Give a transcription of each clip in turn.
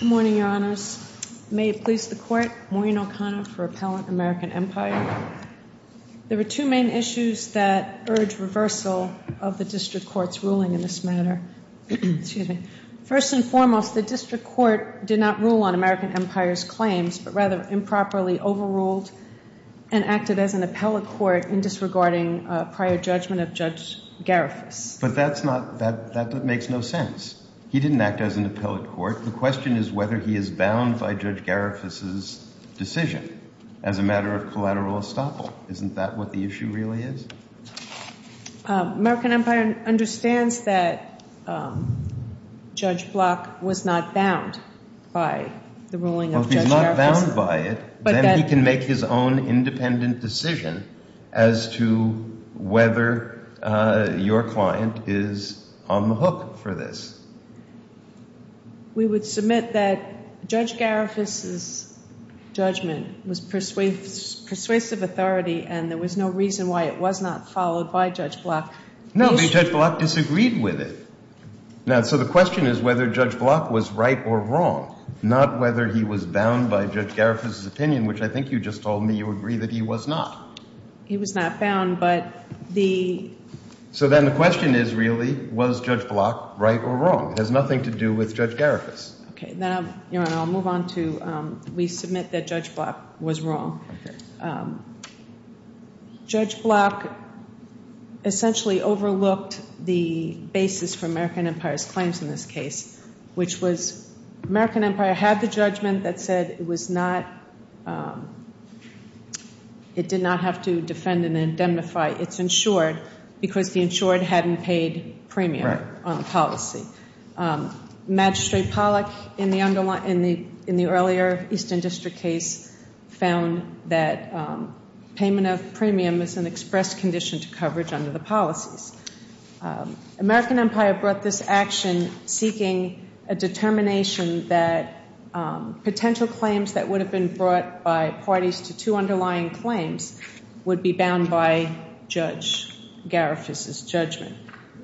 Good morning, Your Honors. May it please the Court, Maureen O'Connor for Appellant American Empire. There are two main issues that urge reversal of the District Court's ruling in this matter. First and foremost, the District Court did not rule on American Empire's claims, but rather improperly overruled and acted as an appellate court in disregarding prior judgment of Judge Garifus. But that's not, that makes no sense. He didn't act as an appellate court. The question is whether he is bound by Judge Garifus' decision as a matter of collateral estoppel. Isn't that what the issue really is? American Empire understands that Judge Block was not bound by the ruling of Judge Garifus. Well, if he's not bound by it, then he can make his own independent decision as to whether your client is on the hook for this. We would submit that Judge Garifus' judgment was persuasive authority and there was no reason why it was not followed by Judge Block. No, I mean Judge Block disagreed with it. Now, so the question is whether Judge Block was right or wrong, not whether he was bound by Judge Garifus' opinion, which I think you just told me you agree that he was not. He was not bound, but the... So then the question is really, was Judge Block right or wrong? It has nothing to do with Judge Garifus. Okay, then I'll move on to, we submit that Judge Block was wrong. Judge Block essentially overlooked the basis for American Empire's claims in this case, which was American Empire did not, it did not have to defend and indemnify its insured because the insured hadn't paid premium on the policy. Magistrate Pollack in the earlier Eastern District case found that payment of premium is an expressed condition to coverage under the policies. American Empire brought this action seeking a determination that potential claims that would have been brought by parties to two underlying claims would be bound by Judge Garifus' judgment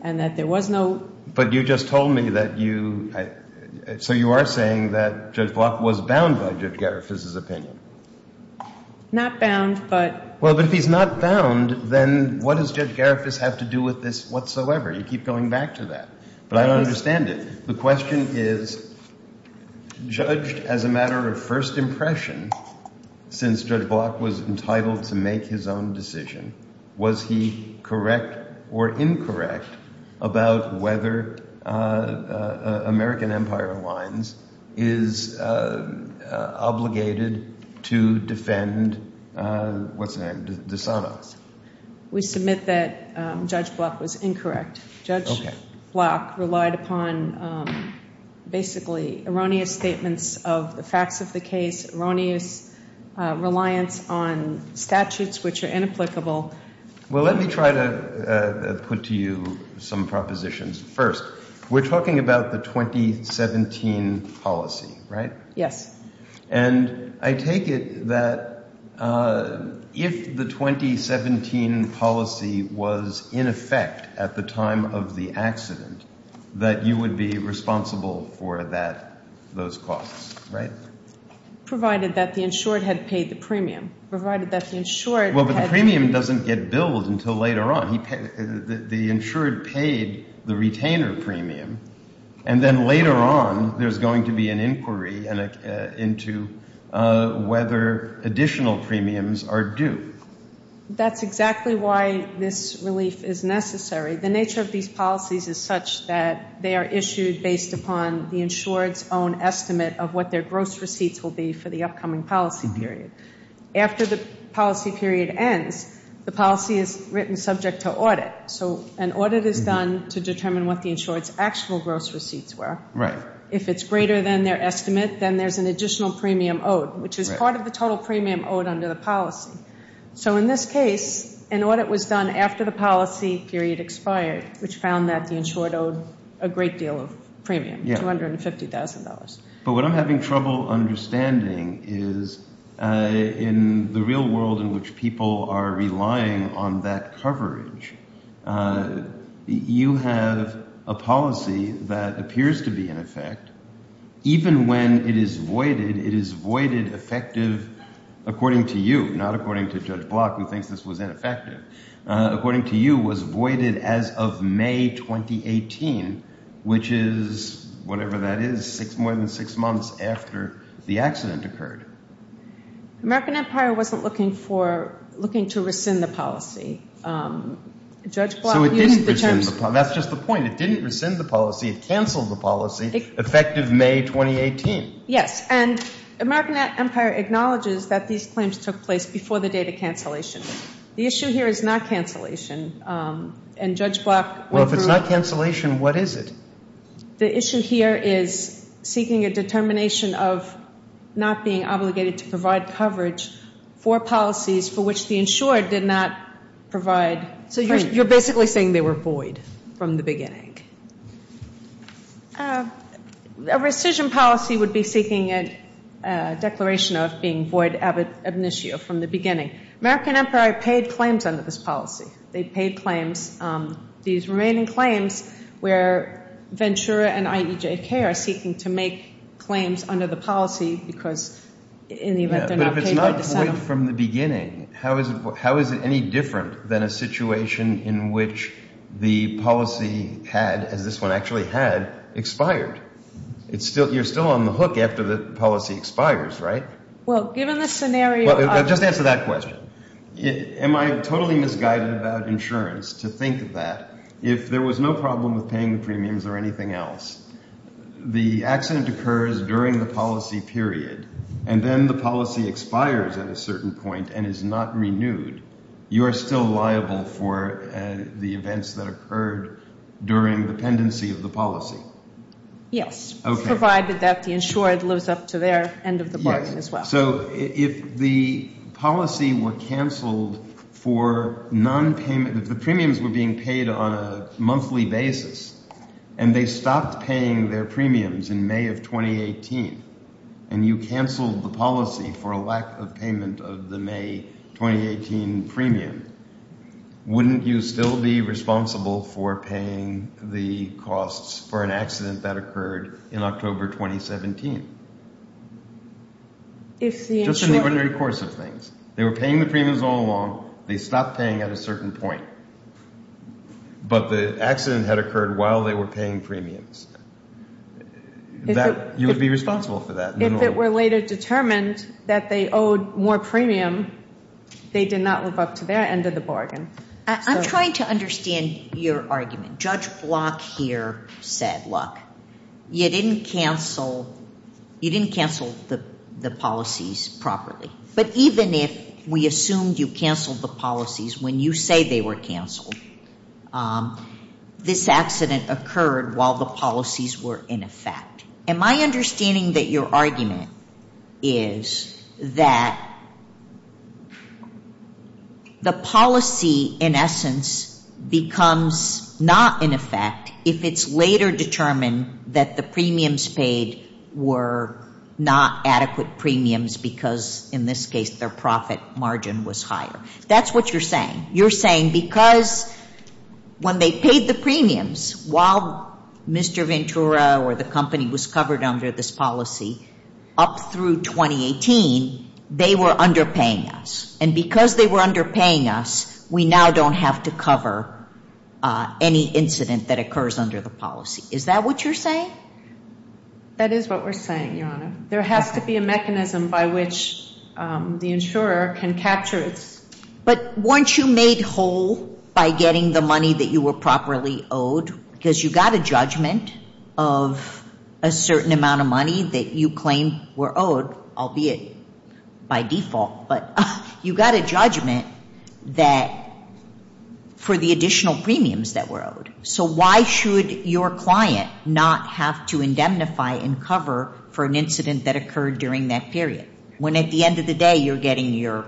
and that there was no... But you just told me that you, so you are saying that Judge Block was bound by Judge Garifus' opinion. Not bound, but... Well, but if he's not bound, then what does Judge Garifus have to do with this whatsoever? You keep going back to that. But I don't understand it. The question is, judged as a matter of first impression, since Judge Block was entitled to make his own decision, was he correct or incorrect about whether American Empire lines is obligated to defend, what's relied upon basically erroneous statements of the facts of the case, erroneous reliance on statutes which are inapplicable. Well, let me try to put to you some propositions. First, we're talking about the 2017 policy, right? Yes. And I take it that if the 2017 policy was in effect at the time of the accident, that you would be responsible for that, those costs, right? Provided that the insured had paid the premium. Provided that the insured had... Well, but the premium doesn't get billed until later on. The insured paid the retainer premium, and then later on there's going to be an inquiry into whether additional premiums are due. That's exactly why this relief is necessary. The nature of these policies is such that they are issued based upon the insured's own estimate of what their gross receipts will be for the upcoming policy period. After the policy period ends, the policy is written subject to audit. So an audit is done to determine what the insured's actual gross receipts were. Right. If it's greater than their estimate, then there's an additional premium owed, which is part of the total premium owed under the policy. So in this case, an audit was done after the policy period expired, which found that the insured owed a great deal of premium, $250,000. But what I'm having trouble understanding is in the real world in which people are relying on that coverage, you have a policy that appears to be in effect. Even when it is voided, it is voided effective, according to you, not according to Judge Block, who thinks this was ineffective. According to you, was voided as of May 2018, which is whatever that is, more than six That's just the point. It didn't rescind the policy. It canceled the policy, effective May 2018. Yes. And American Empire acknowledges that these claims took place before the date of cancellation. The issue here is not cancellation. And Judge Block Well, if it's not cancellation, what is it? The issue here is seeking a determination of not being obligated to provide coverage for policies for which the insured did not provide premium. So you're basically saying they were void from the beginning? A rescission policy would be seeking a declaration of being void ab initio, from the beginning. American Empire paid claims under this policy. They paid claims. These remaining claims where Ventura and IEJK are seeking to make claims under the policy because in the event they're not paid by December. But if it's not void from the beginning, how is it any different than a situation in which the policy had, as this one actually had, expired? You're still on the hook after the policy expires, right? Well, given the scenario... Just answer that question. Am I totally misguided about insurance to think that if there was no problem with paying the premiums or anything else, the accident occurs during the policy period, and then the policy expires at a certain point and is not renewed, you are still liable for the events that occurred during the pendency of the policy? Yes. Provided that the insured lives up to their end of the bargain as well. So if the policy were cancelled for non-payment, if the premiums were being paid on a monthly basis, and they stopped paying their premiums in May of 2018, and you cancelled the policy for a lack of payment of the May 2018 premium, wouldn't you still be responsible for paying the costs for an accident that occurred in October 2017? Just in the ordinary course of things. They were paying the premiums all along. They stopped paying at a certain point. But the accident had occurred while they were paying premiums. You would be responsible for that. If it were later determined that they owed more premium, they did not live up to their end of the bargain. I'm trying to understand your argument. Judge Block here said, look, you didn't cancel the policies properly. But even if we assumed you cancelled the policies when you say they were cancelled, this accident occurred while the policies were in effect. Am I understanding that your argument is that the policy, in essence, becomes not in effect if it's later determined that the premiums paid were not adequate premiums because, in this case, their profit margin was higher? That's what you're saying. You're saying because when they paid the premiums, while Mr. Ventura or the company was covered under this policy, up through 2018, they were underpaying us. And because they were underpaying us, we now don't have to cover any incident that occurs under the policy. Is that what you're saying? That is what we're saying, Your Honor. There has to be a mechanism by which the insurer can capture this. But weren't you made whole by getting the money that you were properly owed? Because you got a judgment of a certain amount of money that you claim were owed, albeit by default. But you got a judgment that for the additional premiums that were owed. So why should your client not have to indemnify and cover for an incident that occurred during that period when, at the end of the day, you're getting your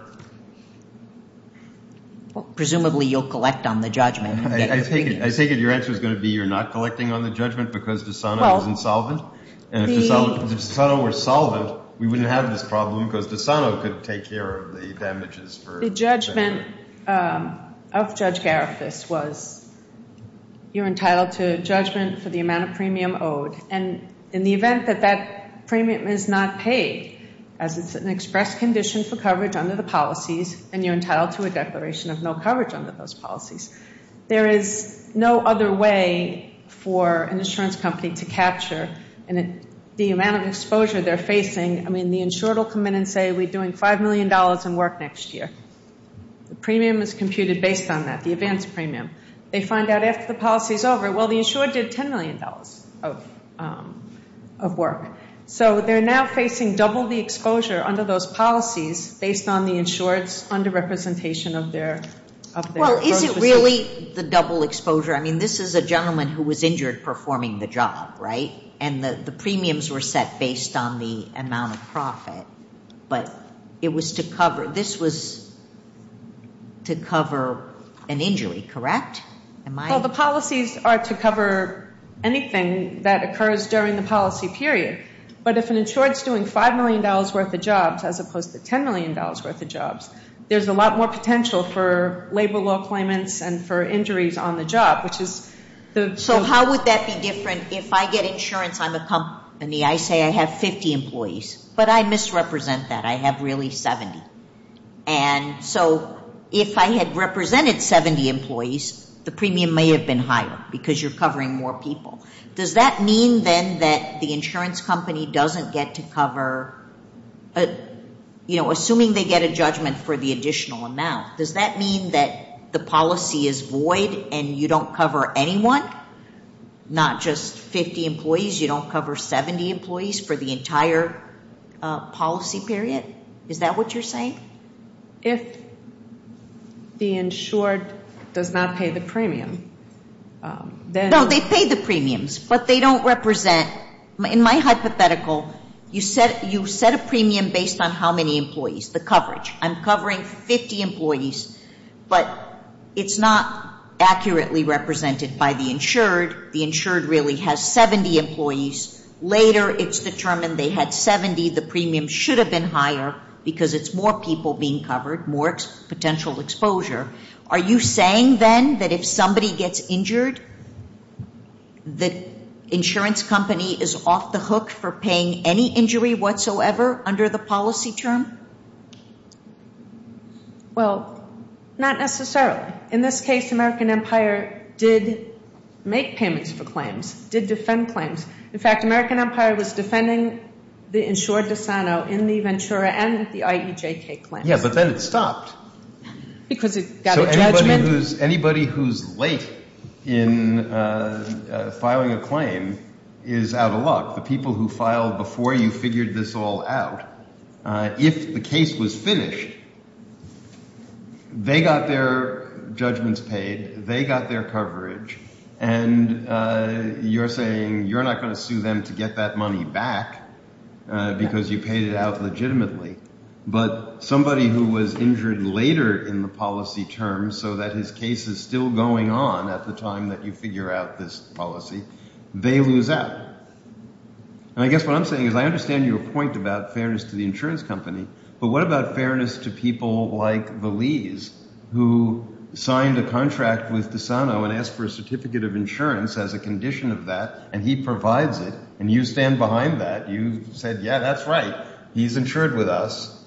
– presumably, you'll collect on the judgment. I take it your answer is going to be you're not collecting on the judgment because DeSano is insolvent. And if DeSano were solvent, we wouldn't have this problem because DeSano could take care of the damages. The judgment of Judge Garifuss was you're entitled to a judgment for the amount of premium owed. And in the event that that premium is not paid, as it's an express condition for coverage under the policies, and you're entitled to a declaration of no coverage under those policies, there is no other way for an insurance company to capture the amount of exposure they're facing. I mean, the insured will come in and say, we're doing $5 million in work next year. The premium is computed based on that, the advance premium. They find out after the policy is over, well, the insured did $10 million of work. So they're now facing double the exposure under those policies based on the insured's under-representation of their gross receipts. I mean, this is a gentleman who was injured performing the job, right? And the premiums were set based on the amount of profit. But it was to cover, this was to cover an injury, correct? Well, the policies are to cover anything that occurs during the policy period. But if an insured's doing $5 million worth of jobs as opposed to $10 million worth of jobs, there's a lot more potential for labor law claimants and for injuries on the job, which is the... The premium may have been higher because you're covering more people. Does that mean then that the insurance company doesn't get to cover, you know, assuming they get a judgment for the additional amount, does that mean that the policy is void and you don't cover anyone? Not just 50 employees, you don't cover 70 employees for the entire policy period? Is that what you're saying? If the insured does not pay the premium, then... No, they pay the premiums, but they don't represent... In my hypothetical, you set a premium based on how many employees, the coverage. I'm covering 50 employees, but it's not accurately represented by the insured. The insured really has 70 employees. Later, it's determined they had 70. The premium should have been higher because it's more people being covered, more potential exposure. Are you saying then that if somebody gets injured, the insurance company is off the hook for paying any injury whatsoever under the policy term? Well, not necessarily. In this case, American Empire did make payments for claims, did defend claims. In fact, American Empire was defending the insured dissono in the Ventura and the IEJK claims. Yeah, but then it stopped. Because it got a judgment. Anybody who's late in filing a claim is out of luck. The people who filed before you figured this all out, if the case was finished, they got their judgments paid, they got their coverage, and you're saying you're not going to sue them to get that money back because you paid it out legitimately. But somebody who was injured later in the policy term so that his case is still going on at the time that you figure out this policy, they lose out. And I guess what I'm saying is I understand your point about fairness to the insurance company, but what about fairness to people like Valise, who signed a contract with dissono and asked for a certificate of insurance as a condition of that, and he provides it, and you stand behind that, you said, yeah, that's right, he's insured with us.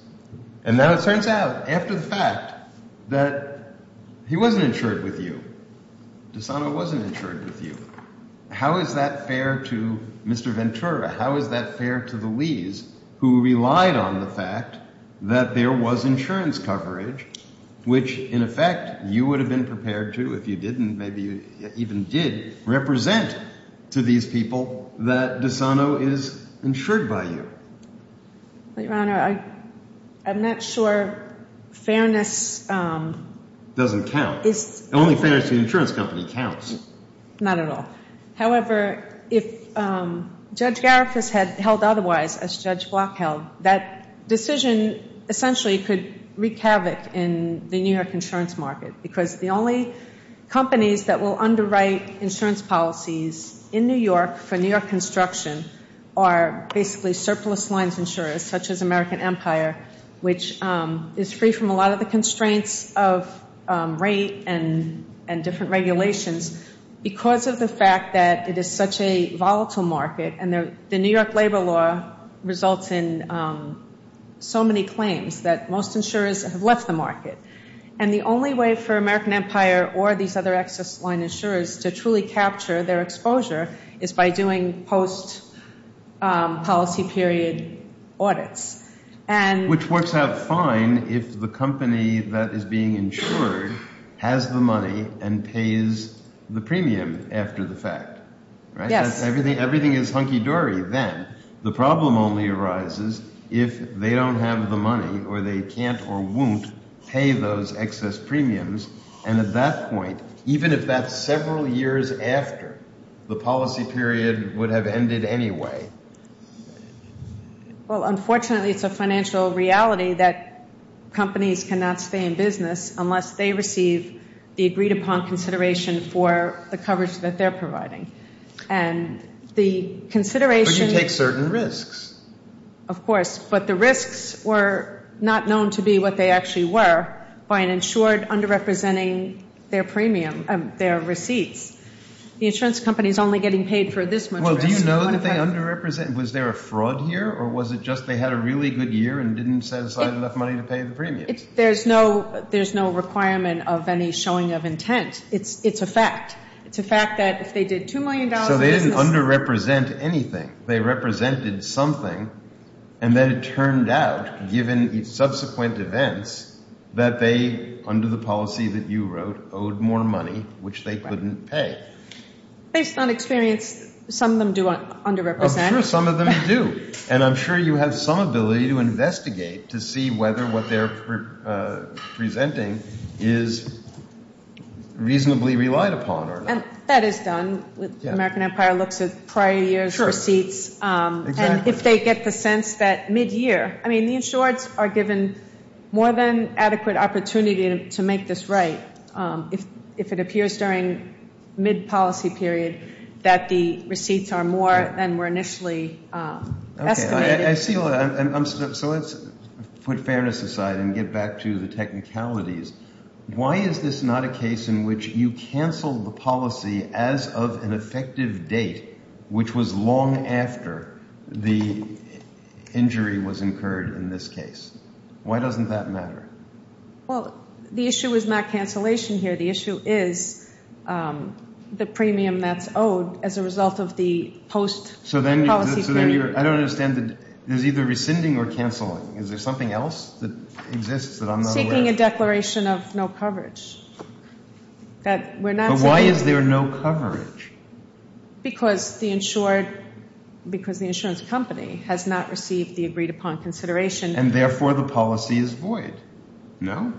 And now it turns out, after the fact, that he wasn't insured with you, dissono wasn't insured with you. How is that fair to Mr. Ventura? How is that fair to Valise, who relied on the fact that there was insurance coverage, which, in effect, you would have been prepared to, if you didn't, maybe you even did, represent to these people that dissono is insured by you? Your Honor, I'm not sure fairness is. Doesn't count. Only fairness to the insurance company counts. Not at all. However, if Judge Garifuss had held otherwise, as Judge Block held, that decision essentially could wreak havoc in the New York insurance market, because the only companies that will underwrite insurance policies in New York for New York construction are basically surplus lines insurers, such as American Empire, which is free from a lot of the constraints of rate and different regulations. Because of the fact that it is such a volatile market and the New York labor law results in so many claims that most insurers have left the market. And the only way for American Empire or these other excess line insurers to truly capture their exposure is by doing post-policy period audits. Which works out fine if the company that is being insured has the money and pays the premium after the fact. Yes. Everything is hunky-dory then. The problem only arises if they don't have the money or they can't or won't pay those excess premiums. And at that point, even if that's several years after, the policy period would have ended anyway. Well, unfortunately, it's a financial reality that companies cannot stay in business unless they receive the agreed-upon consideration for the coverage that they're providing. And the consideration... But you take certain risks. Of course. But the risks were not known to be what they actually were by an insured underrepresenting their premium, their receipts. Well, do you know that they underrepresent? Was there a fraud here, or was it just they had a really good year and didn't set aside enough money to pay the premiums? There's no requirement of any showing of intent. It's a fact. It's a fact that if they did $2 million in business... So they didn't underrepresent anything. They represented something, and then it turned out, given subsequent events, that they, under the policy that you wrote, owed more money, which they couldn't pay. Based on experience, some of them do underrepresent. I'm sure some of them do. And I'm sure you have some ability to investigate to see whether what they're presenting is reasonably relied upon or not. And that is done. American Empire looks at prior years' receipts. And if they get the sense that mid-year... I mean, the insureds are given more than adequate opportunity to make this right. If it appears during mid-policy period that the receipts are more than were initially estimated... Okay, I see. So let's put fairness aside and get back to the technicalities. Why is this not a case in which you cancel the policy as of an effective date, which was long after the injury was incurred in this case? Why doesn't that matter? Well, the issue is not cancellation here. The issue is the premium that's owed as a result of the post-policy period. So then you're... I don't understand. There's either rescinding or canceling. Is there something else that exists that I'm not aware of? We're seeking a declaration of no coverage. But why is there no coverage? Because the insurance company has not received the agreed-upon consideration. And therefore the policy is void. No?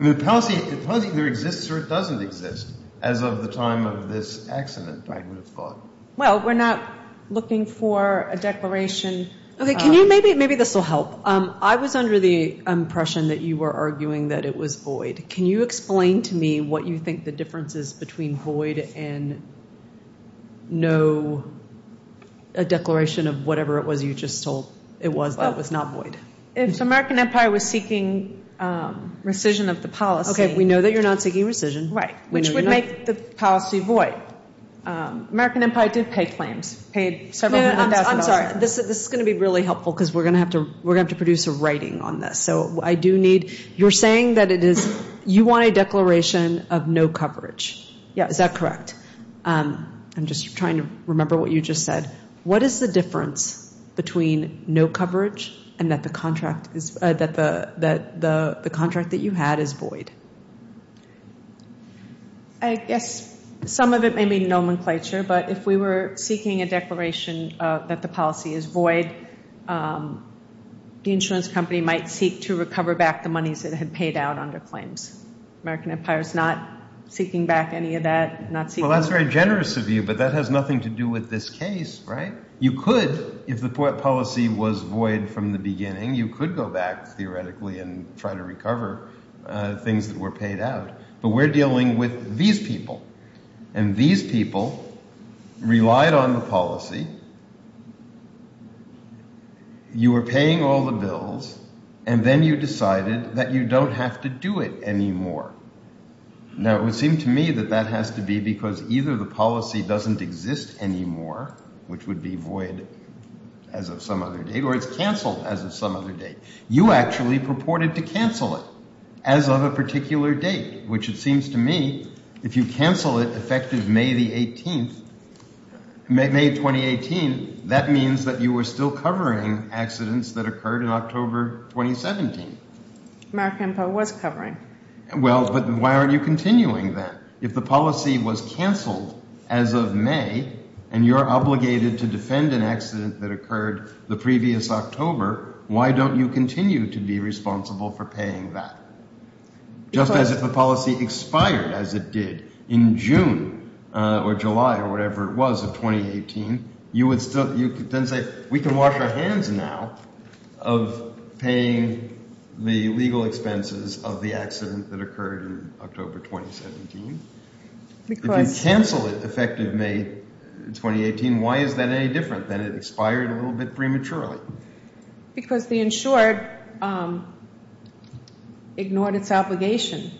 The policy either exists or it doesn't exist as of the time of this accident, I would have thought. Well, we're not looking for a declaration... Okay, maybe this will help. I was under the impression that you were arguing that it was void. Can you explain to me what you think the difference is between void and no declaration of whatever it was you just told it was that was not void? If the American Empire was seeking rescission of the policy... Okay, we know that you're not seeking rescission. Right, which would make the policy void. I'm sorry. This is going to be really helpful because we're going to have to produce a writing on this. So I do need... You're saying that you want a declaration of no coverage. Yes. Is that correct? I'm just trying to remember what you just said. What is the difference between no coverage and that the contract that you had is void? I guess some of it may be nomenclature, but if we were seeking a declaration that the policy is void, the insurance company might seek to recover back the monies that had paid out under claims. The American Empire is not seeking back any of that, not seeking... Well, that's very generous of you, but that has nothing to do with this case, right? You could, if the policy was void from the beginning, you could go back theoretically and try to recover things that were paid out, but we're dealing with these people, and these people relied on the policy. You were paying all the bills, and then you decided that you don't have to do it anymore. Now, it would seem to me that that has to be because either the policy doesn't exist anymore, which would be void as of some other date, or it's canceled as of some other date. You actually purported to cancel it as of a particular date, which it seems to me if you cancel it effective May the 18th, May 2018, that means that you were still covering accidents that occurred in October 2017. American Empire was covering. Well, but why aren't you continuing then? If the policy was canceled as of May, and you're obligated to defend an accident that occurred the previous October, why don't you continue to be responsible for paying that? Just as if the policy expired as it did in June or July or whatever it was of 2018, you would then say we can wash our hands now of paying the legal expenses of the accident that occurred in October 2017. If you cancel it effective May 2018, why is that any different than it expired a little bit prematurely? Because the insured ignored its obligation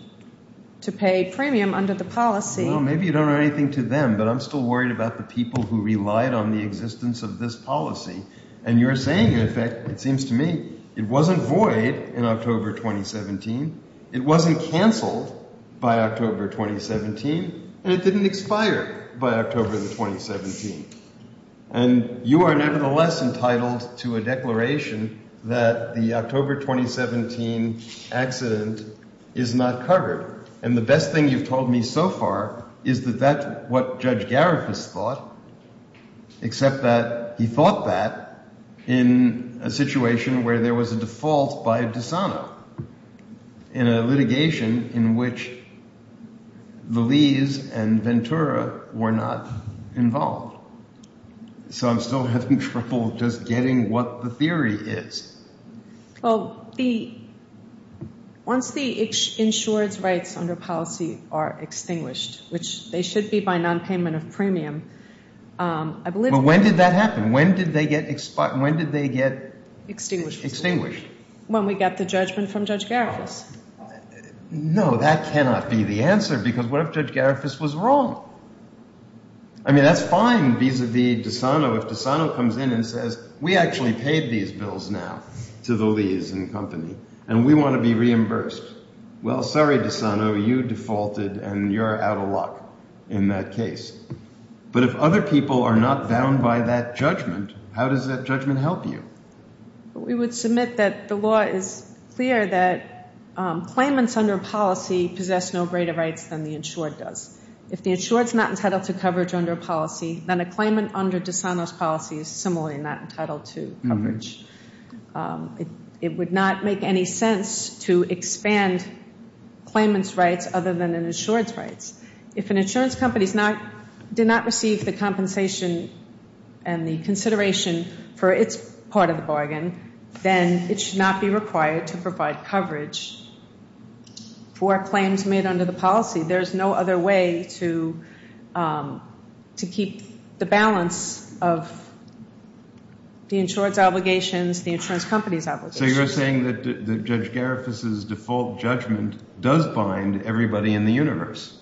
to pay premium under the policy. Well, maybe you don't owe anything to them, but I'm still worried about the people who relied on the existence of this policy. And you're saying, in effect, it seems to me it wasn't void in October 2017. It wasn't canceled by October 2017, and it didn't expire by October 2017. And you are nevertheless entitled to a declaration that the October 2017 accident is not covered. And the best thing you've told me so far is that that's what Judge Garifuss thought, except that he thought that in a situation where there was a default by DeSano, in a litigation in which Lilies and Ventura were not involved. So I'm still having trouble just getting what the theory is. Well, once the insured's rights under policy are extinguished, which they should be by nonpayment of premium, I believe... But when did that happen? When did they get... Extinguished. Extinguished. When we got the judgment from Judge Garifuss. No, that cannot be the answer, because what if Judge Garifuss was wrong? I mean, that's fine vis-a-vis DeSano. If DeSano comes in and says, we actually paid these bills now to the Lilies and company, and we want to be reimbursed. Well, sorry, DeSano, you defaulted, and you're out of luck in that case. But if other people are not bound by that judgment, how does that judgment help you? We would submit that the law is clear that claimants under policy possess no greater rights than the insured does. If the insured's not entitled to coverage under policy, then a claimant under DeSano's policy is similarly not entitled to coverage. It would not make any sense to expand claimant's rights other than an insured's rights. If an insurance company did not receive the compensation and the consideration for its part of the bargain, then it should not be required to provide coverage for claims made under the policy. There's no other way to keep the balance of the insured's obligations, the insurance company's obligations. So you're saying that Judge Garifuss' default judgment does bind everybody in the universe?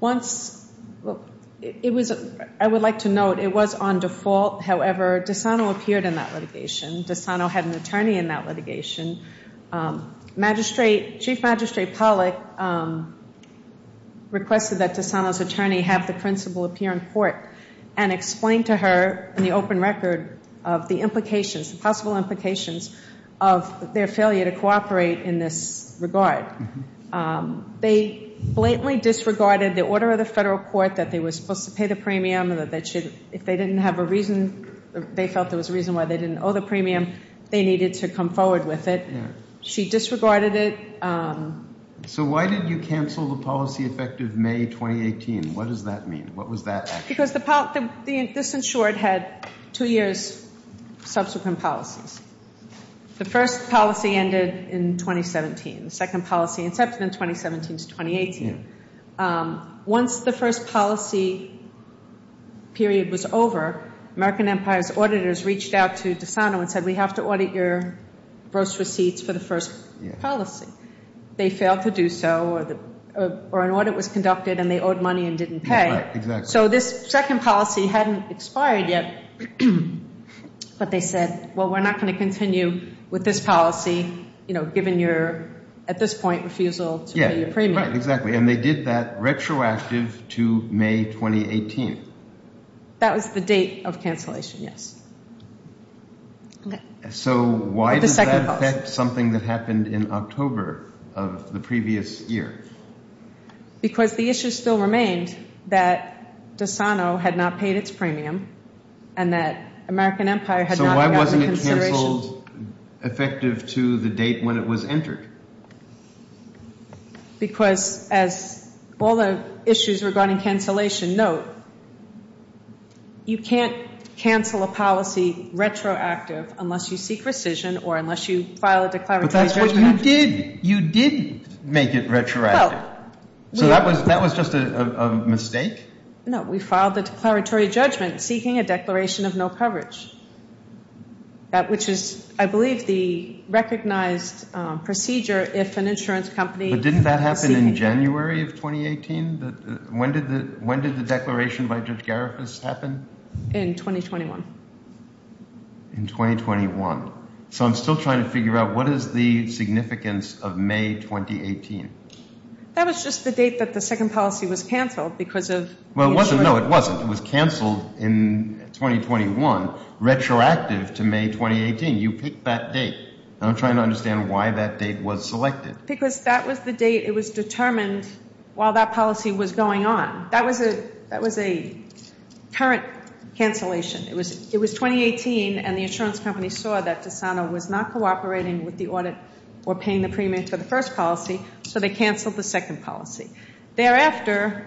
Once – it was – I would like to note it was on default. However, DeSano appeared in that litigation. Chief Magistrate Pollack requested that DeSano's attorney have the principal appear in court and explain to her in the open record of the implications, the possible implications of their failure to cooperate in this regard. They blatantly disregarded the order of the federal court that they were supposed to pay the premium and that they should – if they didn't have a reason, they felt there was a reason why they didn't owe the premium, they needed to come forward with it. She disregarded it. So why did you cancel the policy effective May 2018? What does that mean? What was that action? Because the – this insured had two years' subsequent policies. The first policy ended in 2017. The second policy incepted in 2017 to 2018. Once the first policy period was over, American Empire's auditors reached out to DeSano and said, we have to audit your gross receipts for the first policy. They failed to do so or an audit was conducted and they owed money and didn't pay. Right, exactly. So this second policy hadn't expired yet. But they said, well, we're not going to continue with this policy, you know, given your, at this point, refusal to pay your premium. Right, exactly. And they did that retroactive to May 2018. That was the date of cancellation, yes. So why does that affect something that happened in October of the previous year? Because the issue still remained that DeSano had not paid its premium and that American Empire had not – So why wasn't it canceled effective to the date when it was entered? Because as all the issues regarding cancellation note, you can't cancel a policy retroactive unless you seek rescission or unless you file a declaratory judgment. But that's what you did. You did make it retroactive. So that was just a mistake? No, we filed the declaratory judgment seeking a declaration of no coverage. Which is, I believe, the recognized procedure if an insurance company – But didn't that happen in January of 2018? When did the declaration by Judge Garifas happen? In 2021. In 2021. So I'm still trying to figure out what is the significance of May 2018? That was just the date that the second policy was canceled because of – Well, it wasn't. No, it wasn't. It was canceled in 2021 retroactive to May 2018. You picked that date. I'm trying to understand why that date was selected. Because that was the date. It was determined while that policy was going on. That was a current cancellation. It was 2018, and the insurance company saw that DeSano was not cooperating with the audit or paying the premium for the first policy, so they canceled the second policy. Thereafter,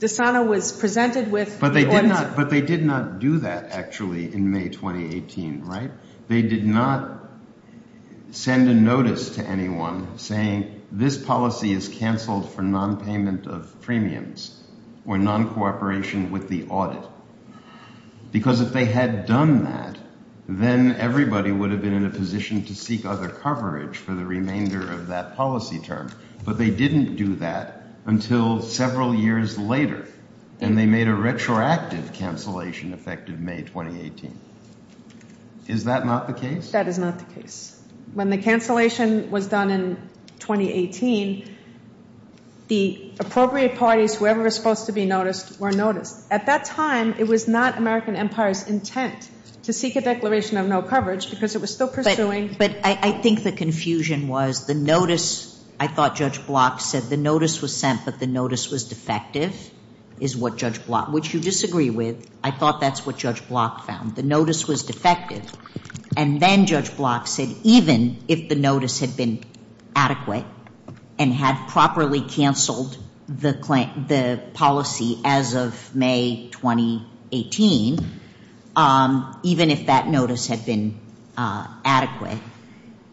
DeSano was presented with – But they did not do that, actually, in May 2018, right? They did not send a notice to anyone saying, this policy is canceled for nonpayment of premiums or noncooperation with the audit. Because if they had done that, then everybody would have been in a position to seek other coverage for the remainder of that policy term. But they didn't do that until several years later, and they made a retroactive cancellation effective May 2018. Is that not the case? That is not the case. When the cancellation was done in 2018, the appropriate parties, whoever was supposed to be noticed, were noticed. At that time, it was not American Empire's intent to seek a declaration of no coverage because it was still pursuing – But I think the confusion was the notice – I thought Judge Block said the notice was sent, but the notice was defective, is what Judge Block – which you disagree with. I thought that's what Judge Block found. The notice was defective. And then Judge Block said even if the notice had been adequate and had properly canceled the policy as of May 2018, even if that notice had been adequate,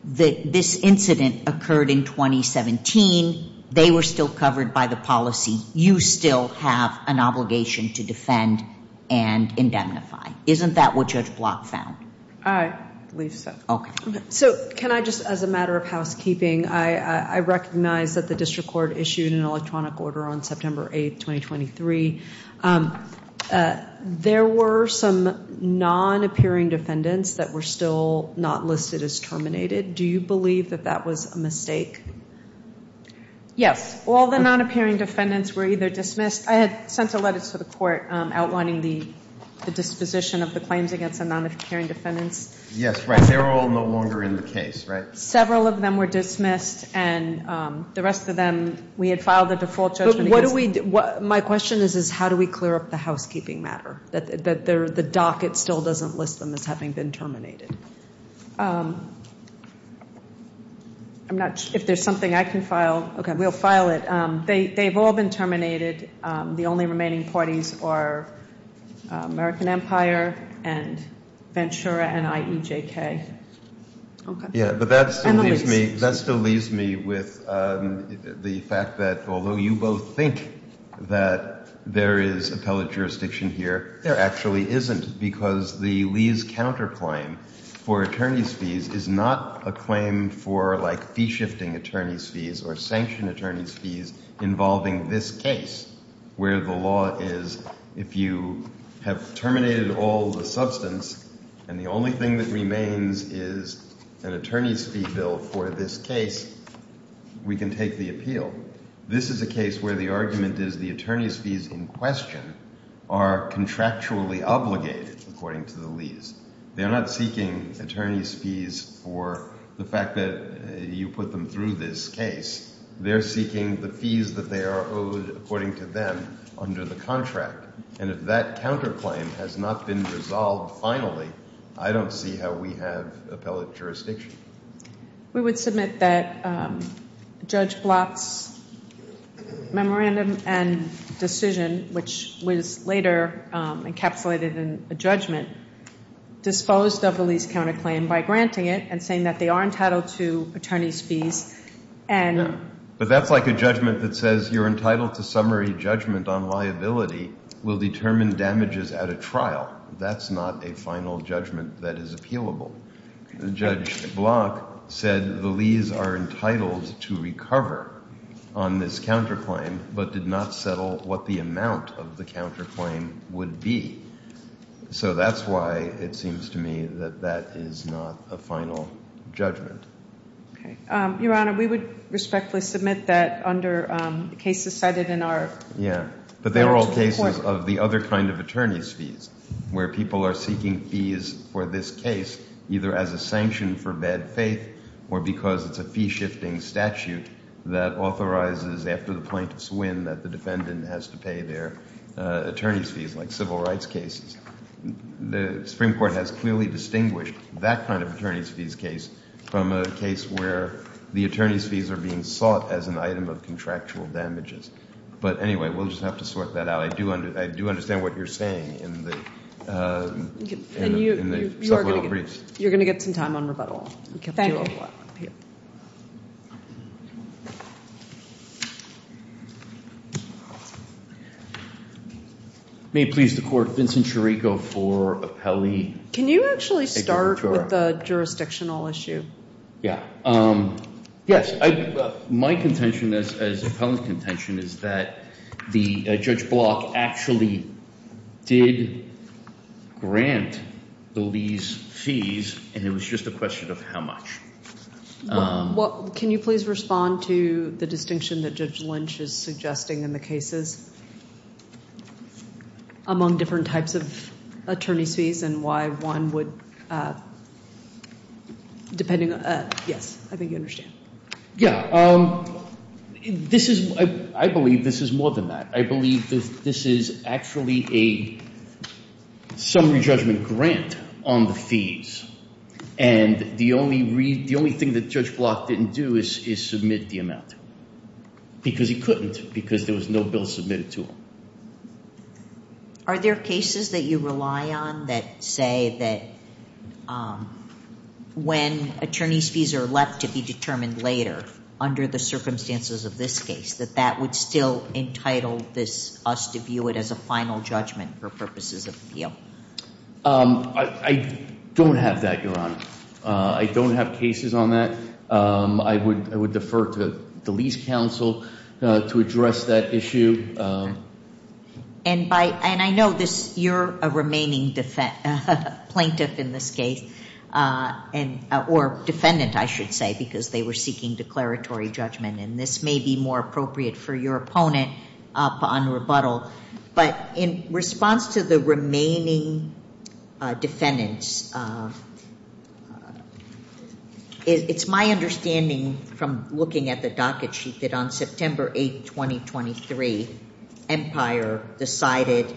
this incident occurred in 2017. They were still covered by the policy. You still have an obligation to defend and indemnify. Isn't that what Judge Block found? I believe so. Okay. So can I just, as a matter of housekeeping, I recognize that the district court issued an electronic order on September 8, 2023. There were some non-appearing defendants that were still not listed as terminated. Do you believe that that was a mistake? Yes. All the non-appearing defendants were either dismissed – I had sent a letter to the court outlining the disposition of the claims against the non-appearing defendants. Yes, right. They were all no longer in the case, right? Several of them were dismissed, and the rest of them – we had filed a default judgment against them. My question is how do we clear up the housekeeping matter, that the docket still doesn't list them as having been terminated? If there's something I can file – okay, we'll file it. They've all been terminated. The only remaining parties are American Empire and Ventura and IEJK. Yeah, but that still leaves me with the fact that, although you both think that there is appellate jurisdiction here, there actually isn't because the Lees counterclaim for attorney's fees is not a claim for, like, fee-shifting attorney's fees or sanction attorney's fees involving this case, where the law is if you have terminated all the substance and the only thing that remains is an attorney's fee bill for this case, we can take the appeal. This is a case where the argument is the attorney's fees in question are contractually obligated, according to the Lees. They're not seeking attorney's fees for the fact that you put them through this case. They're seeking the fees that they are owed, according to them, under the contract. And if that counterclaim has not been resolved finally, I don't see how we have appellate jurisdiction. We would submit that Judge Blatt's memorandum and decision, which was later encapsulated in a judgment, disposed of the Lees counterclaim by granting it and saying that they are entitled to attorney's fees. But that's like a judgment that says you're entitled to summary judgment on liability will determine damages at a trial. That's not a final judgment that is appealable. Judge Blatt said the Lees are entitled to recover on this counterclaim but did not settle what the amount of the counterclaim would be. So that's why it seems to me that that is not a final judgment. Your Honor, we would respectfully submit that under cases cited in our court report. Yeah, but they were all cases of the other kind of attorney's fees where people are seeking fees for this case either as a sanction for bad faith or because it's a fee-shifting statute that authorizes after the plaintiff's win that the defendant has to pay their attorney's fees like civil rights cases. The Supreme Court has clearly distinguished that kind of attorney's fees case from a case where the attorney's fees are being sought as an item of contractual damages. But anyway, we'll just have to sort that out. I do understand what you're saying in the supplemental briefs. You're going to get some time on rebuttal. Thank you. May it please the Court, Vincent Chirico for appellee. Can you actually start with the jurisdictional issue? Yes. My contention as appellant contention is that Judge Block actually did grant the lease fees and it was just a question of how much. Can you please respond to the distinction that Judge Lynch is suggesting in the cases among different types of attorney's fees and why one would, depending on, yes, I think you understand. Yeah. This is, I believe this is more than that. I believe this is actually a summary judgment grant on the fees and the only thing that Judge Block didn't do is submit the amount because he couldn't because there was no bill submitted to him. Are there cases that you rely on that say that when attorney's fees are left to be determined later under the circumstances of this case that that would still entitle us to view it as a final judgment for purposes of appeal? I don't have that, Your Honor. I don't have cases on that. I would defer to the lease counsel to address that issue. And I know you're a remaining plaintiff in this case or defendant, I should say, because they were seeking declaratory judgment and this may be more appropriate for your opponent upon rebuttal. But in response to the remaining defendants, it's my understanding from looking at the docket sheet that on September 8, 2023, Empire decided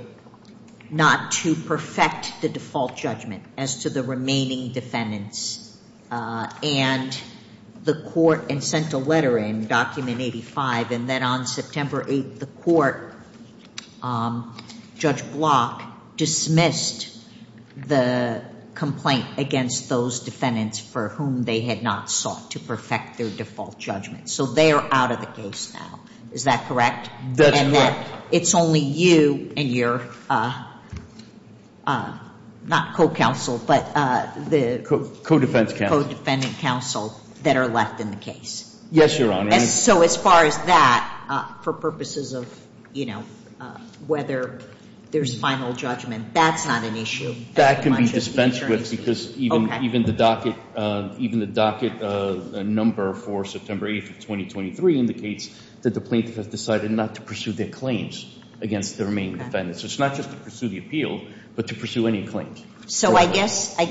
not to perfect the default judgment as to the remaining defendants. And the court sent a letter in, document 85, and then on September 8, the court, Judge Block dismissed the complaint against those defendants for whom they had not sought to perfect their default judgment. So they are out of the case now. Is that correct? That's correct. But it's only you and your, not co-counsel, but the co-defending counsel that are left in the case. Yes, Your Honor. So as far as that, for purposes of, you know, whether there's final judgment, that's not an issue. That can be dispensed with because even the docket number for September 8, 2023, indicates that the plaintiff has decided not to pursue their claims against the remaining defendants. So it's not just to pursue the appeal, but to pursue any claims. So I guess I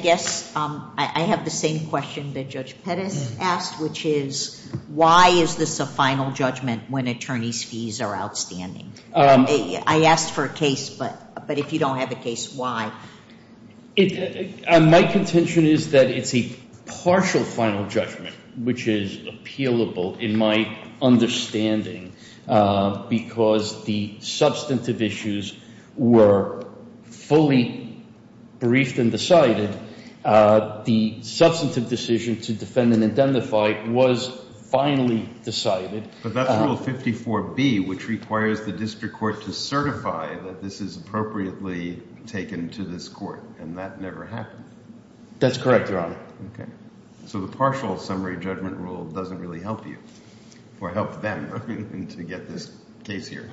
have the same question that Judge Pettis asked, which is, why is this a final judgment when attorney's fees are outstanding? I asked for a case, but if you don't have a case, why? My contention is that it's a partial final judgment, which is appealable in my understanding, because the substantive issues were fully briefed and decided. The substantive decision to defend and identify was finally decided. But that's Rule 54B, which requires the district court to certify that this is appropriately taken to this court, and that never happened. That's correct, Your Honor. Okay. So the partial summary judgment rule doesn't really help you, or help them, to get this case here.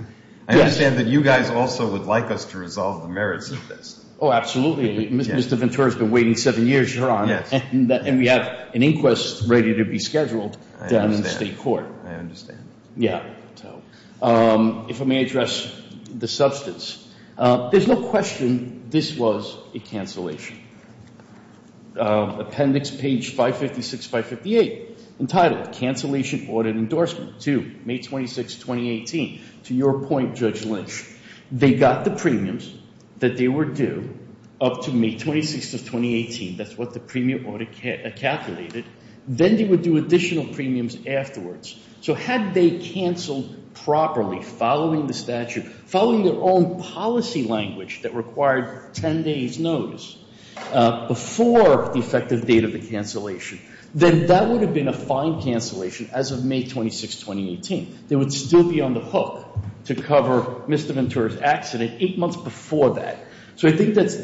I understand that you guys also would like us to resolve the merits of this. Oh, absolutely. Mr. Ventura's been waiting seven years, Your Honor. Yes. And we have an inquest ready to be scheduled down in the state court. I understand. Yeah. If I may address the substance, there's no question this was a cancellation. Appendix page 556, 558, entitled, Cancellation Audit Endorsement to May 26, 2018. To your point, Judge Lynch, they got the premiums that they were due up to May 26 of 2018. That's what the premium audit calculated. Then they would do additional premiums afterwards. So had they canceled properly, following the statute, following their own policy language that required 10 days notice before the effective date of the cancellation, then that would have been a fine cancellation as of May 26, 2018. They would still be on the hook to cover Mr. Ventura's accident eight months before that. So I think that's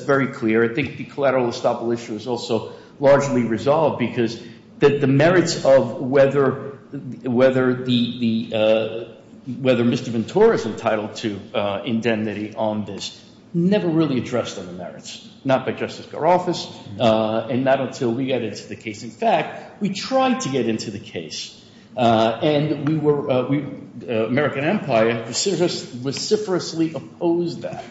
very clear. I think the collateral estoppel issue is also largely resolved because the merits of whether Mr. Ventura is entitled to indemnity on this never really addressed on the merits, not by Justice Garoff's and not until we got into the case. In fact, we tried to get into the case, and the American Empire vociferously opposed that.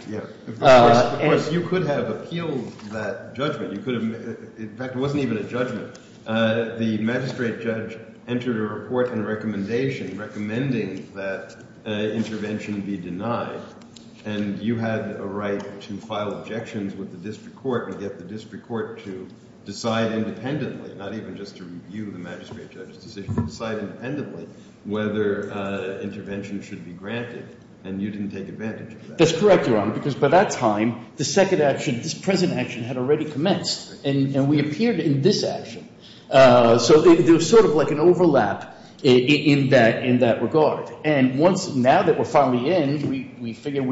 Of course, you could have appealed that judgment. In fact, it wasn't even a judgment. The magistrate judge entered a report and a recommendation recommending that intervention be denied, and you had a right to file objections with the district court and get the district court to decide independently, not even just to review the magistrate judge's decision, to decide independently whether intervention should be granted, and you didn't take advantage of that. That's correct, Your Honor, because by that time, the second action, this present action, had already commenced, and we appeared in this action. So there was sort of like an overlap in that regard, and now that we're finally in, we figured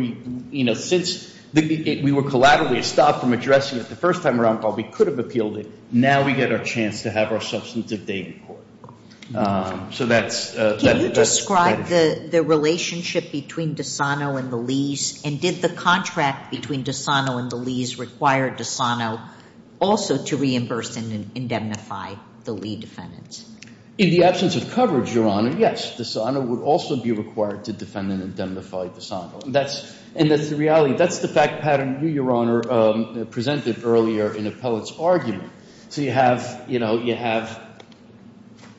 since we were collateral, we had stopped from addressing it the first time around, but we could have appealed it. Now we get our chance to have our substantive date in court. Can you describe the relationship between DeSano and the Lees, and did the contract between DeSano and the Lees require DeSano also to reimburse and indemnify the Lee defendants? In the absence of coverage, Your Honor, yes, DeSano would also be required to defend and indemnify DeSano, and that's the reality. That's the fact pattern you, Your Honor, presented earlier in Appellate's argument. So you have, you know, you have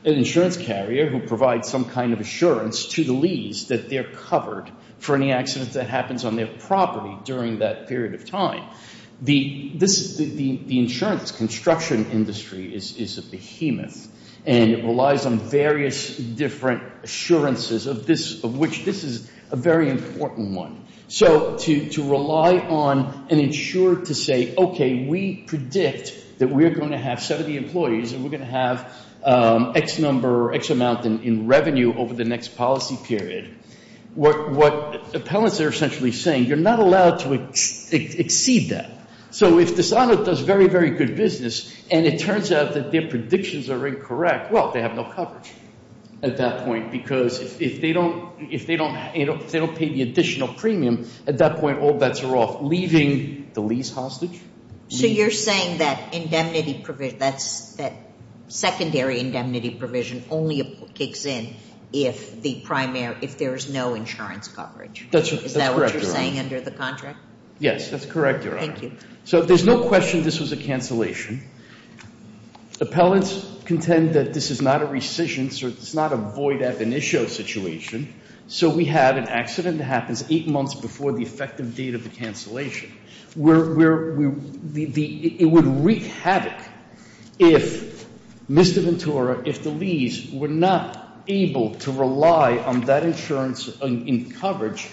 an insurance carrier who provides some kind of assurance to the Lees that they're covered for any accidents that happens on their property during that period of time. The insurance construction industry is a behemoth, and it relies on various different assurances of this, of which this is a very important one. So to rely on an insurer to say, okay, we predict that we're going to have 70 employees and we're going to have X number or X amount in revenue over the next policy period, what appellants are essentially saying, you're not allowed to exceed that. So if DeSano does very, very good business and it turns out that their predictions are incorrect, well, they have no coverage at that point because if they don't pay the additional premium, at that point all bets are off, leaving the Lees hostage. So you're saying that indemnity provision, that secondary indemnity provision only kicks in if the primary, if there is no insurance coverage? That's correct, Your Honor. Is that what you're saying under the contract? Yes, that's correct, Your Honor. Thank you. So there's no question this was a cancellation. Appellants contend that this is not a rescission, so it's not a void-at-the-initio situation. So we have an accident that happens eight months before the effective date of the cancellation. It would wreak havoc if Mr. Ventura, if the Lees were not able to rely on that insurance in coverage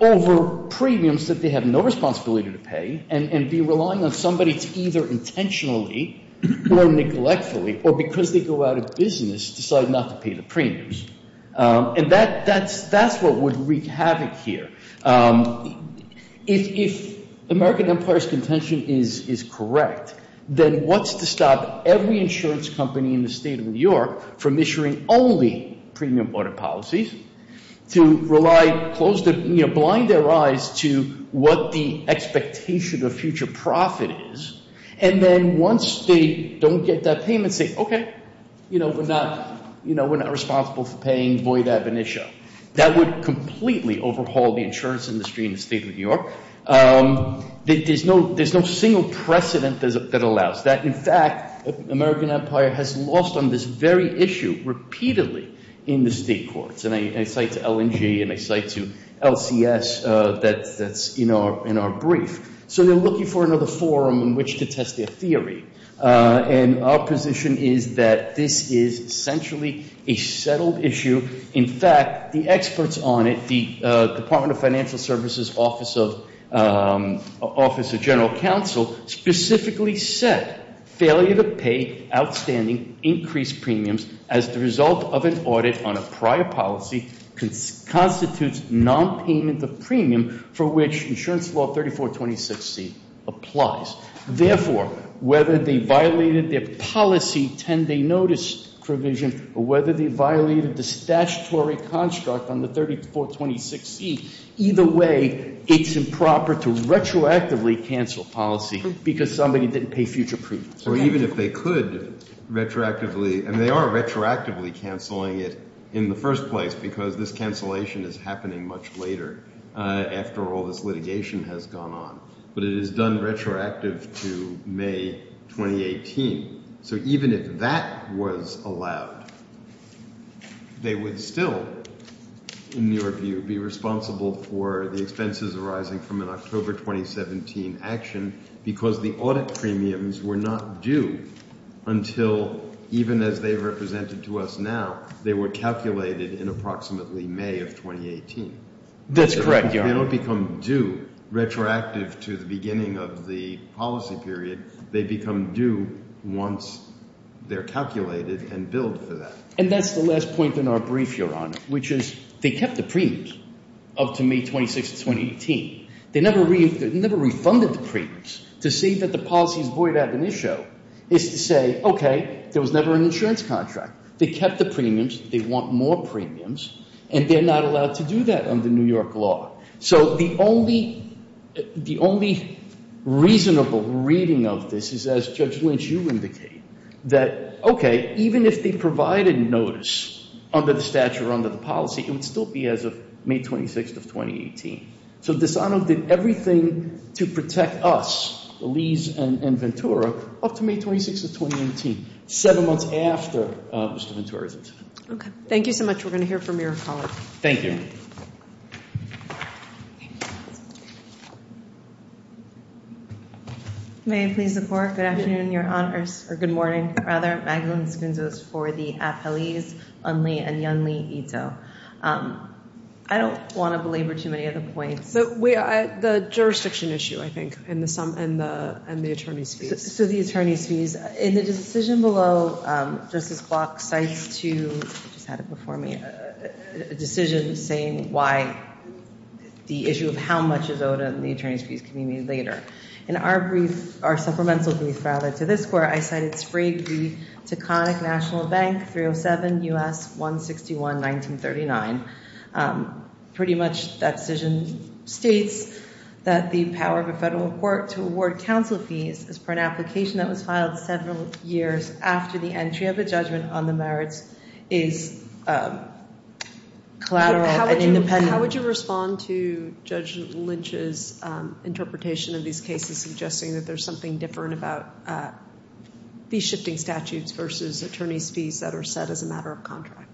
over premiums that they have no responsibility to pay and be relying on somebody to either intentionally or neglectfully or because they go out of business decide not to pay the premiums. And that's what would wreak havoc here. If American Empire's contention is correct, then what's to stop every insurance company in the state of New York from issuing only premium border policies to blind their eyes to what the expectation of future profit is? And then once they don't get that payment, say, okay, we're not responsible for paying void-at-the-initio. That would completely overhaul the insurance industry in the state of New York. There's no single precedent that allows that. In fact, American Empire has lost on this very issue repeatedly in the state courts. And I cite to LNG and I cite to LCS that's in our brief. So they're looking for another forum in which to test their theory. And our position is that this is essentially a settled issue. In fact, the experts on it, the Department of Financial Services Office of General Counsel, specifically said failure to pay outstanding increased premiums as the result of an audit on a prior policy constitutes nonpayment of premium for which insurance law 3426C applies. Therefore, whether they violated their policy 10-day notice provision or whether they violated the statutory construct on the 3426C, either way it's improper to retroactively cancel policy because somebody didn't pay future premiums. Or even if they could retroactively, and they are retroactively canceling it in the first place because this cancellation is happening much later after all this litigation has gone on. But it is done retroactive to May 2018. So even if that was allowed, they would still, in your view, be responsible for the expenses arising from an October 2017 action because the audit premiums were not due until even as they represented to us now. They were calculated in approximately May of 2018. That's correct, Your Honor. They don't become due retroactive to the beginning of the policy period. They become due once they're calculated and billed for that. And that's the last point in our brief, Your Honor, which is they kept the premiums up to May 26, 2018. They never refunded the premiums. To say that the policy is void of an issue is to say, okay, there was never an insurance contract. They kept the premiums. They want more premiums, and they're not allowed to do that under New York law. So the only reasonable reading of this is, as Judge Lynch, you indicate, that, okay, even if they provided notice under the statute or under the policy, it would still be as of May 26 of 2018. So Desano did everything to protect us, Lees and Ventura, up to May 26 of 2018, seven months after Mr. Ventura's incident. Okay. Thank you so much. We're going to hear from your colleague. Thank you. May I please support? Good afternoon, Your Honors. Or good morning, rather. Magdalene Sconzos for the appellees, Unlee and Yunlee Ito. I don't want to belabor too many of the points. The jurisdiction issue, I think, and the attorney's fees. So the attorney's fees. In the decision below, Justice Block cites to, I just had it before me, a decision saying why the issue of how much is owed in the attorney's fees can be made later. In our brief, our supplemental brief, rather, to this court, I cited Sprague v. Taconic National Bank, 307 U.S. 161, 1939. Pretty much that decision states that the power of a federal court to award counsel fees as per an application that was filed several years after the entry of a judgment on the merits is collateral and independent. How would you respond to Judge Lynch's interpretation of these cases suggesting that there's something different about fee-shifting statutes versus attorney's fees that are set as a matter of contract?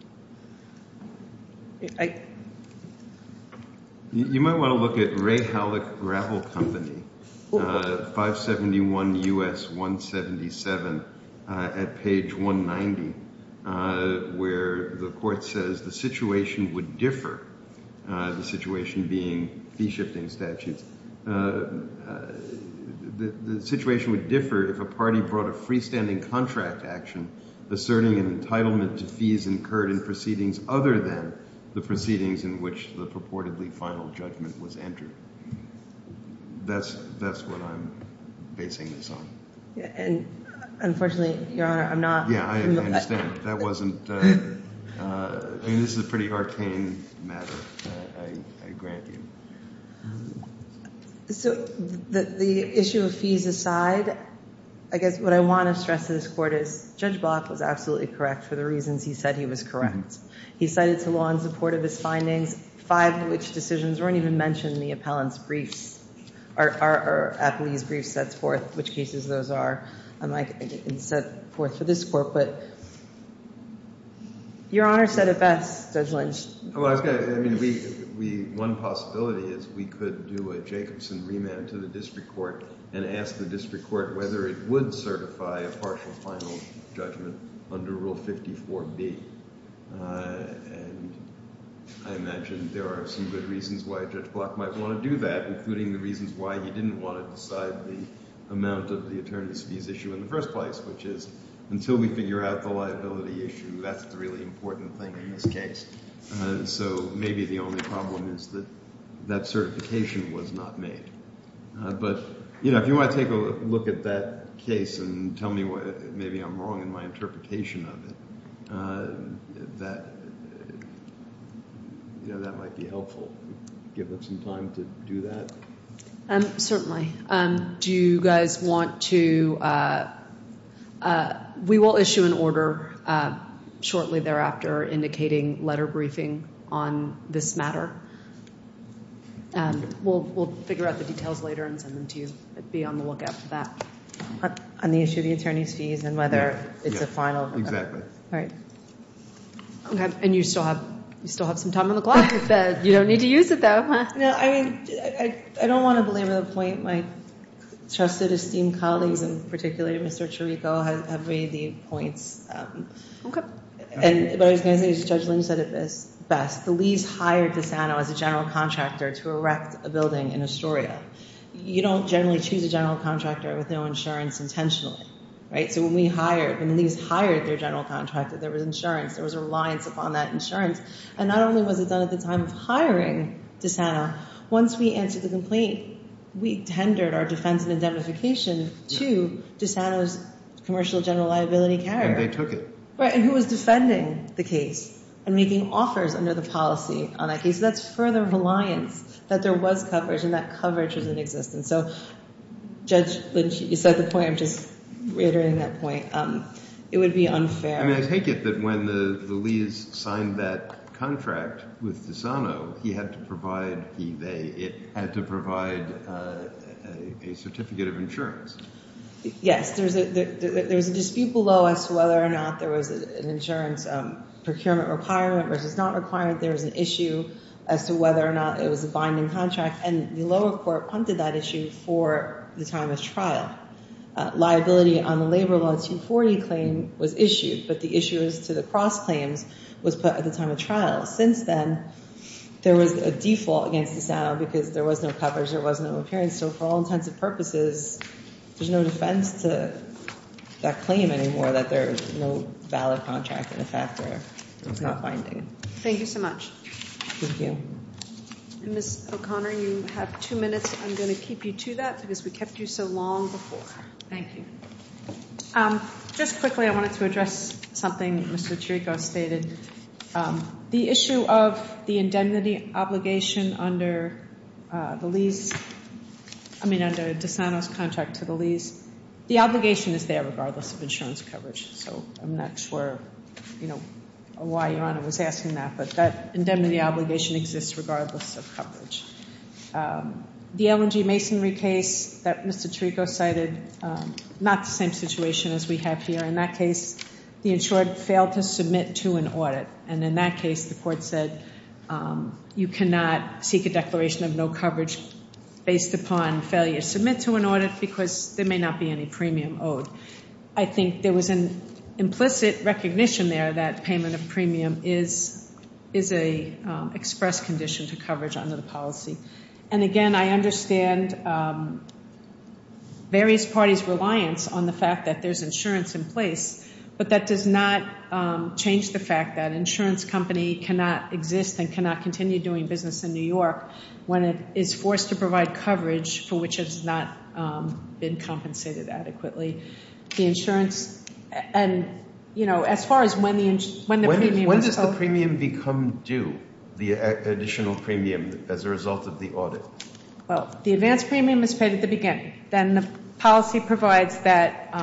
You might want to look at Ray Howlick Gravel Company, 571 U.S. 177, at page 190, where the court says the situation would differ, the situation being fee-shifting statutes. The situation would differ if a party brought a freestanding contract action asserting an entitlement to fees incurred in proceedings other than the proceedings in which the purportedly final judgment was entered. That's what I'm basing this on. Unfortunately, Your Honor, I'm not. Yeah, I understand. This is a pretty arcane matter, I grant you. The issue of fees aside, I guess what I want to stress to this court is that Judge Block was absolutely correct for the reasons he said he was correct. He cited to law in support of his findings, five of which decisions weren't even mentioned in the appellant's briefs or appellee's briefs sets forth which cases those are, and set forth for this court. But Your Honor said it best, Judge Lynch. I mean, one possibility is we could do a Jacobson remand to the district court and ask the district court whether it would certify a partial final judgment under Rule 54B. And I imagine there are some good reasons why Judge Block might want to do that, including the reasons why he didn't want to decide the amount of the attorney's fees issue in the first place, which is until we figure out the liability issue, that's the really important thing in this case. So maybe the only problem is that that certification was not made. But, you know, if you want to take a look at that case and tell me maybe I'm wrong in my interpretation of it, that might be helpful. Give us some time to do that. Certainly. Do you guys want to we will issue an order shortly thereafter indicating letter briefing on this matter. We'll figure out the details later and send them to you. Be on the lookout for that. On the issue of the attorney's fees and whether it's a final. Exactly. All right. And you still have some time on the clock. You don't need to use it, though. No, I mean, I don't want to belabor the point. My trusted, esteemed colleagues, and particularly Mr. Chirico, have made the points. Okay. But I was going to say, as Judge Lynch said it best, the Lees hired DeSanto as a general contractor to erect a building in Astoria. You don't generally choose a general contractor with no insurance intentionally, right? So when we hired, when the Lees hired their general contractor, there was insurance. There was a reliance upon that insurance. And not only was it done at the time of hiring DeSanto, once we answered the complaint, we tendered our defense and indemnification to DeSanto's commercial general liability care. And they took it. Right. And who was defending the case and making offers under the policy on that case? That's further reliance that there was coverage and that coverage was in existence. So, Judge Lynch, you said the point. I'm just reiterating that point. It would be unfair. I mean, I take it that when the Lees signed that contract with DeSanto, he had to provide a certificate of insurance. Yes. There was a dispute below as to whether or not there was an insurance procurement requirement, which was not required. There was an issue as to whether or not it was a binding contract. And the lower court punted that issue for the time of trial. Liability on the labor law 240 claim was issued, but the issue as to the cross claims was put at the time of trial. Since then, there was a default against DeSanto because there was no coverage. There was no appearance. So, for all intents and purposes, there's no defense to that claim anymore that there's no valid contract in effect there. It's not binding. Thank you so much. Thank you. Ms. O'Connor, you have two minutes. I'm going to keep you to that because we kept you so long before. Thank you. Just quickly, I wanted to address something Mr. Chirico stated. The issue of the indemnity obligation under the Lees, I mean, under DeSanto's contract to the Lees, the obligation is there regardless of insurance coverage. So, I'm not sure, you know, why Your Honor was asking that, but that indemnity obligation exists regardless of coverage. The L&G Masonry case that Mr. Chirico cited, not the same situation as we have here. In that case, the insured failed to submit to an audit, and in that case, the court said, you cannot seek a declaration of no coverage based upon failure to submit to an audit because there may not be any premium owed. I think there was an implicit recognition there that payment of premium is an express condition to coverage under the policy. And again, I understand various parties' reliance on the fact that there's insurance in place, but that does not change the fact that an insurance company cannot exist and cannot continue doing business in New York when it is forced to provide coverage for which it has not been compensated adequately. The insurance, and, you know, as far as when the premium is paid. When does the premium become due, the additional premium as a result of the audit? Well, the advance premium is paid at the beginning. Then the policy provides that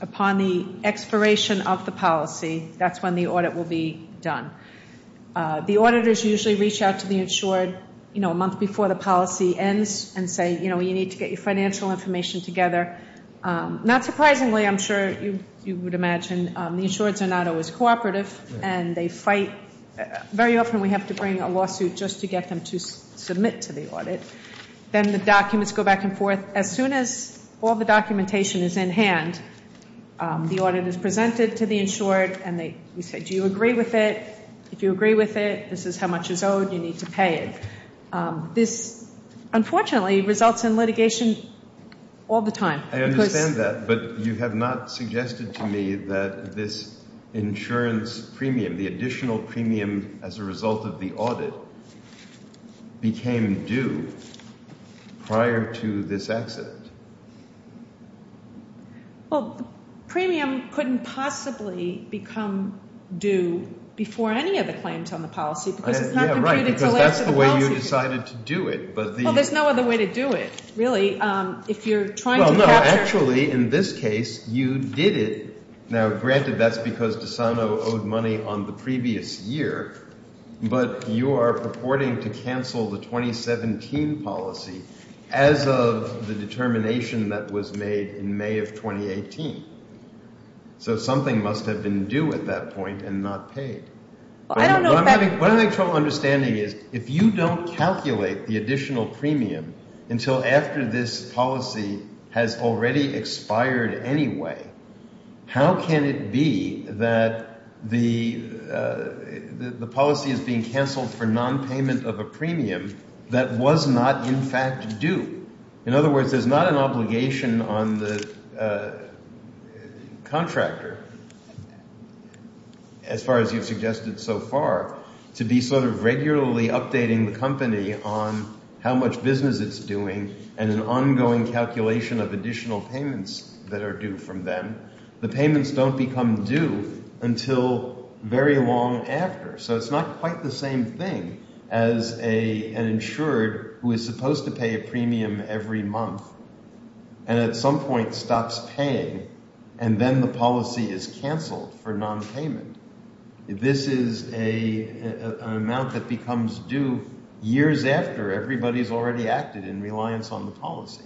upon the expiration of the policy, that's when the audit will be done. The auditors usually reach out to the insured, you know, a month before the policy ends and say, you know, you need to get your financial information together. Not surprisingly, I'm sure you would imagine, the insureds are not always cooperative and they fight. Very often we have to bring a lawsuit just to get them to submit to the audit. Then the documents go back and forth. As soon as all the documentation is in hand, the audit is presented to the insured and we say, do you agree with it? If you agree with it, this is how much is owed, you need to pay it. This, unfortunately, results in litigation all the time. I understand that, but you have not suggested to me that this insurance premium, the additional premium as a result of the audit, became due prior to this accident. Well, the premium couldn't possibly become due before any of the claims on the policy because it's not completed until after the policy. Yeah, right, because that's the way you decided to do it. Well, there's no other way to do it, really, if you're trying to capture. Well, no, actually, in this case, you did it. Now, granted, that's because DeSano owed money on the previous year, but you are purporting to cancel the 2017 policy as of the determination that was made in May of 2018. So something must have been due at that point and not paid. What I'm having trouble understanding is if you don't calculate the additional premium until after this policy has already expired anyway, how can it be that the policy is being canceled for nonpayment of a premium that was not in fact due? In other words, there's not an obligation on the contractor, as far as you've suggested so far, to be sort of regularly updating the company on how much business it's doing and an ongoing calculation of additional payments that are due from them. The payments don't become due until very long after. So it's not quite the same thing as an insured who is supposed to pay a premium every month and at some point stops paying and then the policy is canceled for nonpayment. This is an amount that becomes due years after everybody's already acted in reliance on the policy.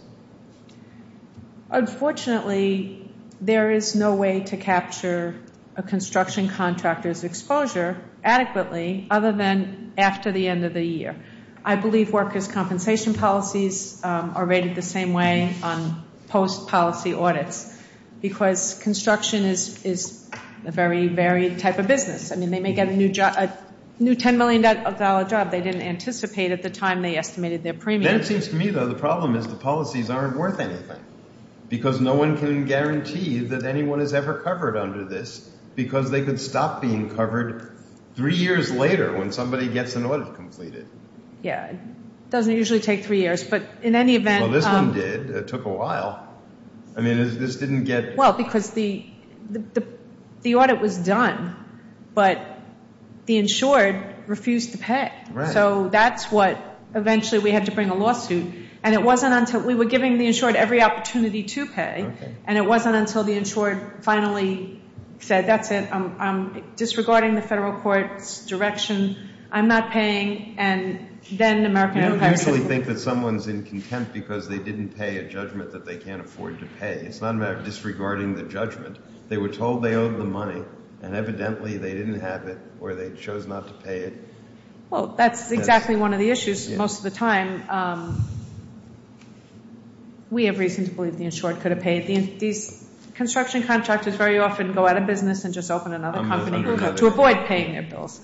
Unfortunately, there is no way to capture a construction contractor's exposure adequately other than after the end of the year. I believe workers' compensation policies are rated the same way on post-policy audits because construction is a very varied type of business. I mean, they may get a new $10 million job they didn't anticipate at the time they estimated their premium. That seems to me, though, the problem is the policies aren't worth anything because no one can guarantee that anyone is ever covered under this because they could stop being covered three years later when somebody gets an audit completed. Yeah, it doesn't usually take three years, but in any event— Well, this one did. It took a while. I mean, this didn't get— Well, because the audit was done, but the insured refused to pay. Right. So that's what—eventually we had to bring a lawsuit, and it wasn't until—we were giving the insured every opportunity to pay, and it wasn't until the insured finally said, that's it, I'm disregarding the federal court's direction, I'm not paying, and then American Enterprise— I think that someone's in contempt because they didn't pay a judgment that they can't afford to pay. It's not a matter of disregarding the judgment. They were told they owed the money, and evidently they didn't have it, or they chose not to pay it. Well, that's exactly one of the issues most of the time. We have reason to believe the insured could have paid. These construction contractors very often go out of business and just open another company to avoid paying their bills.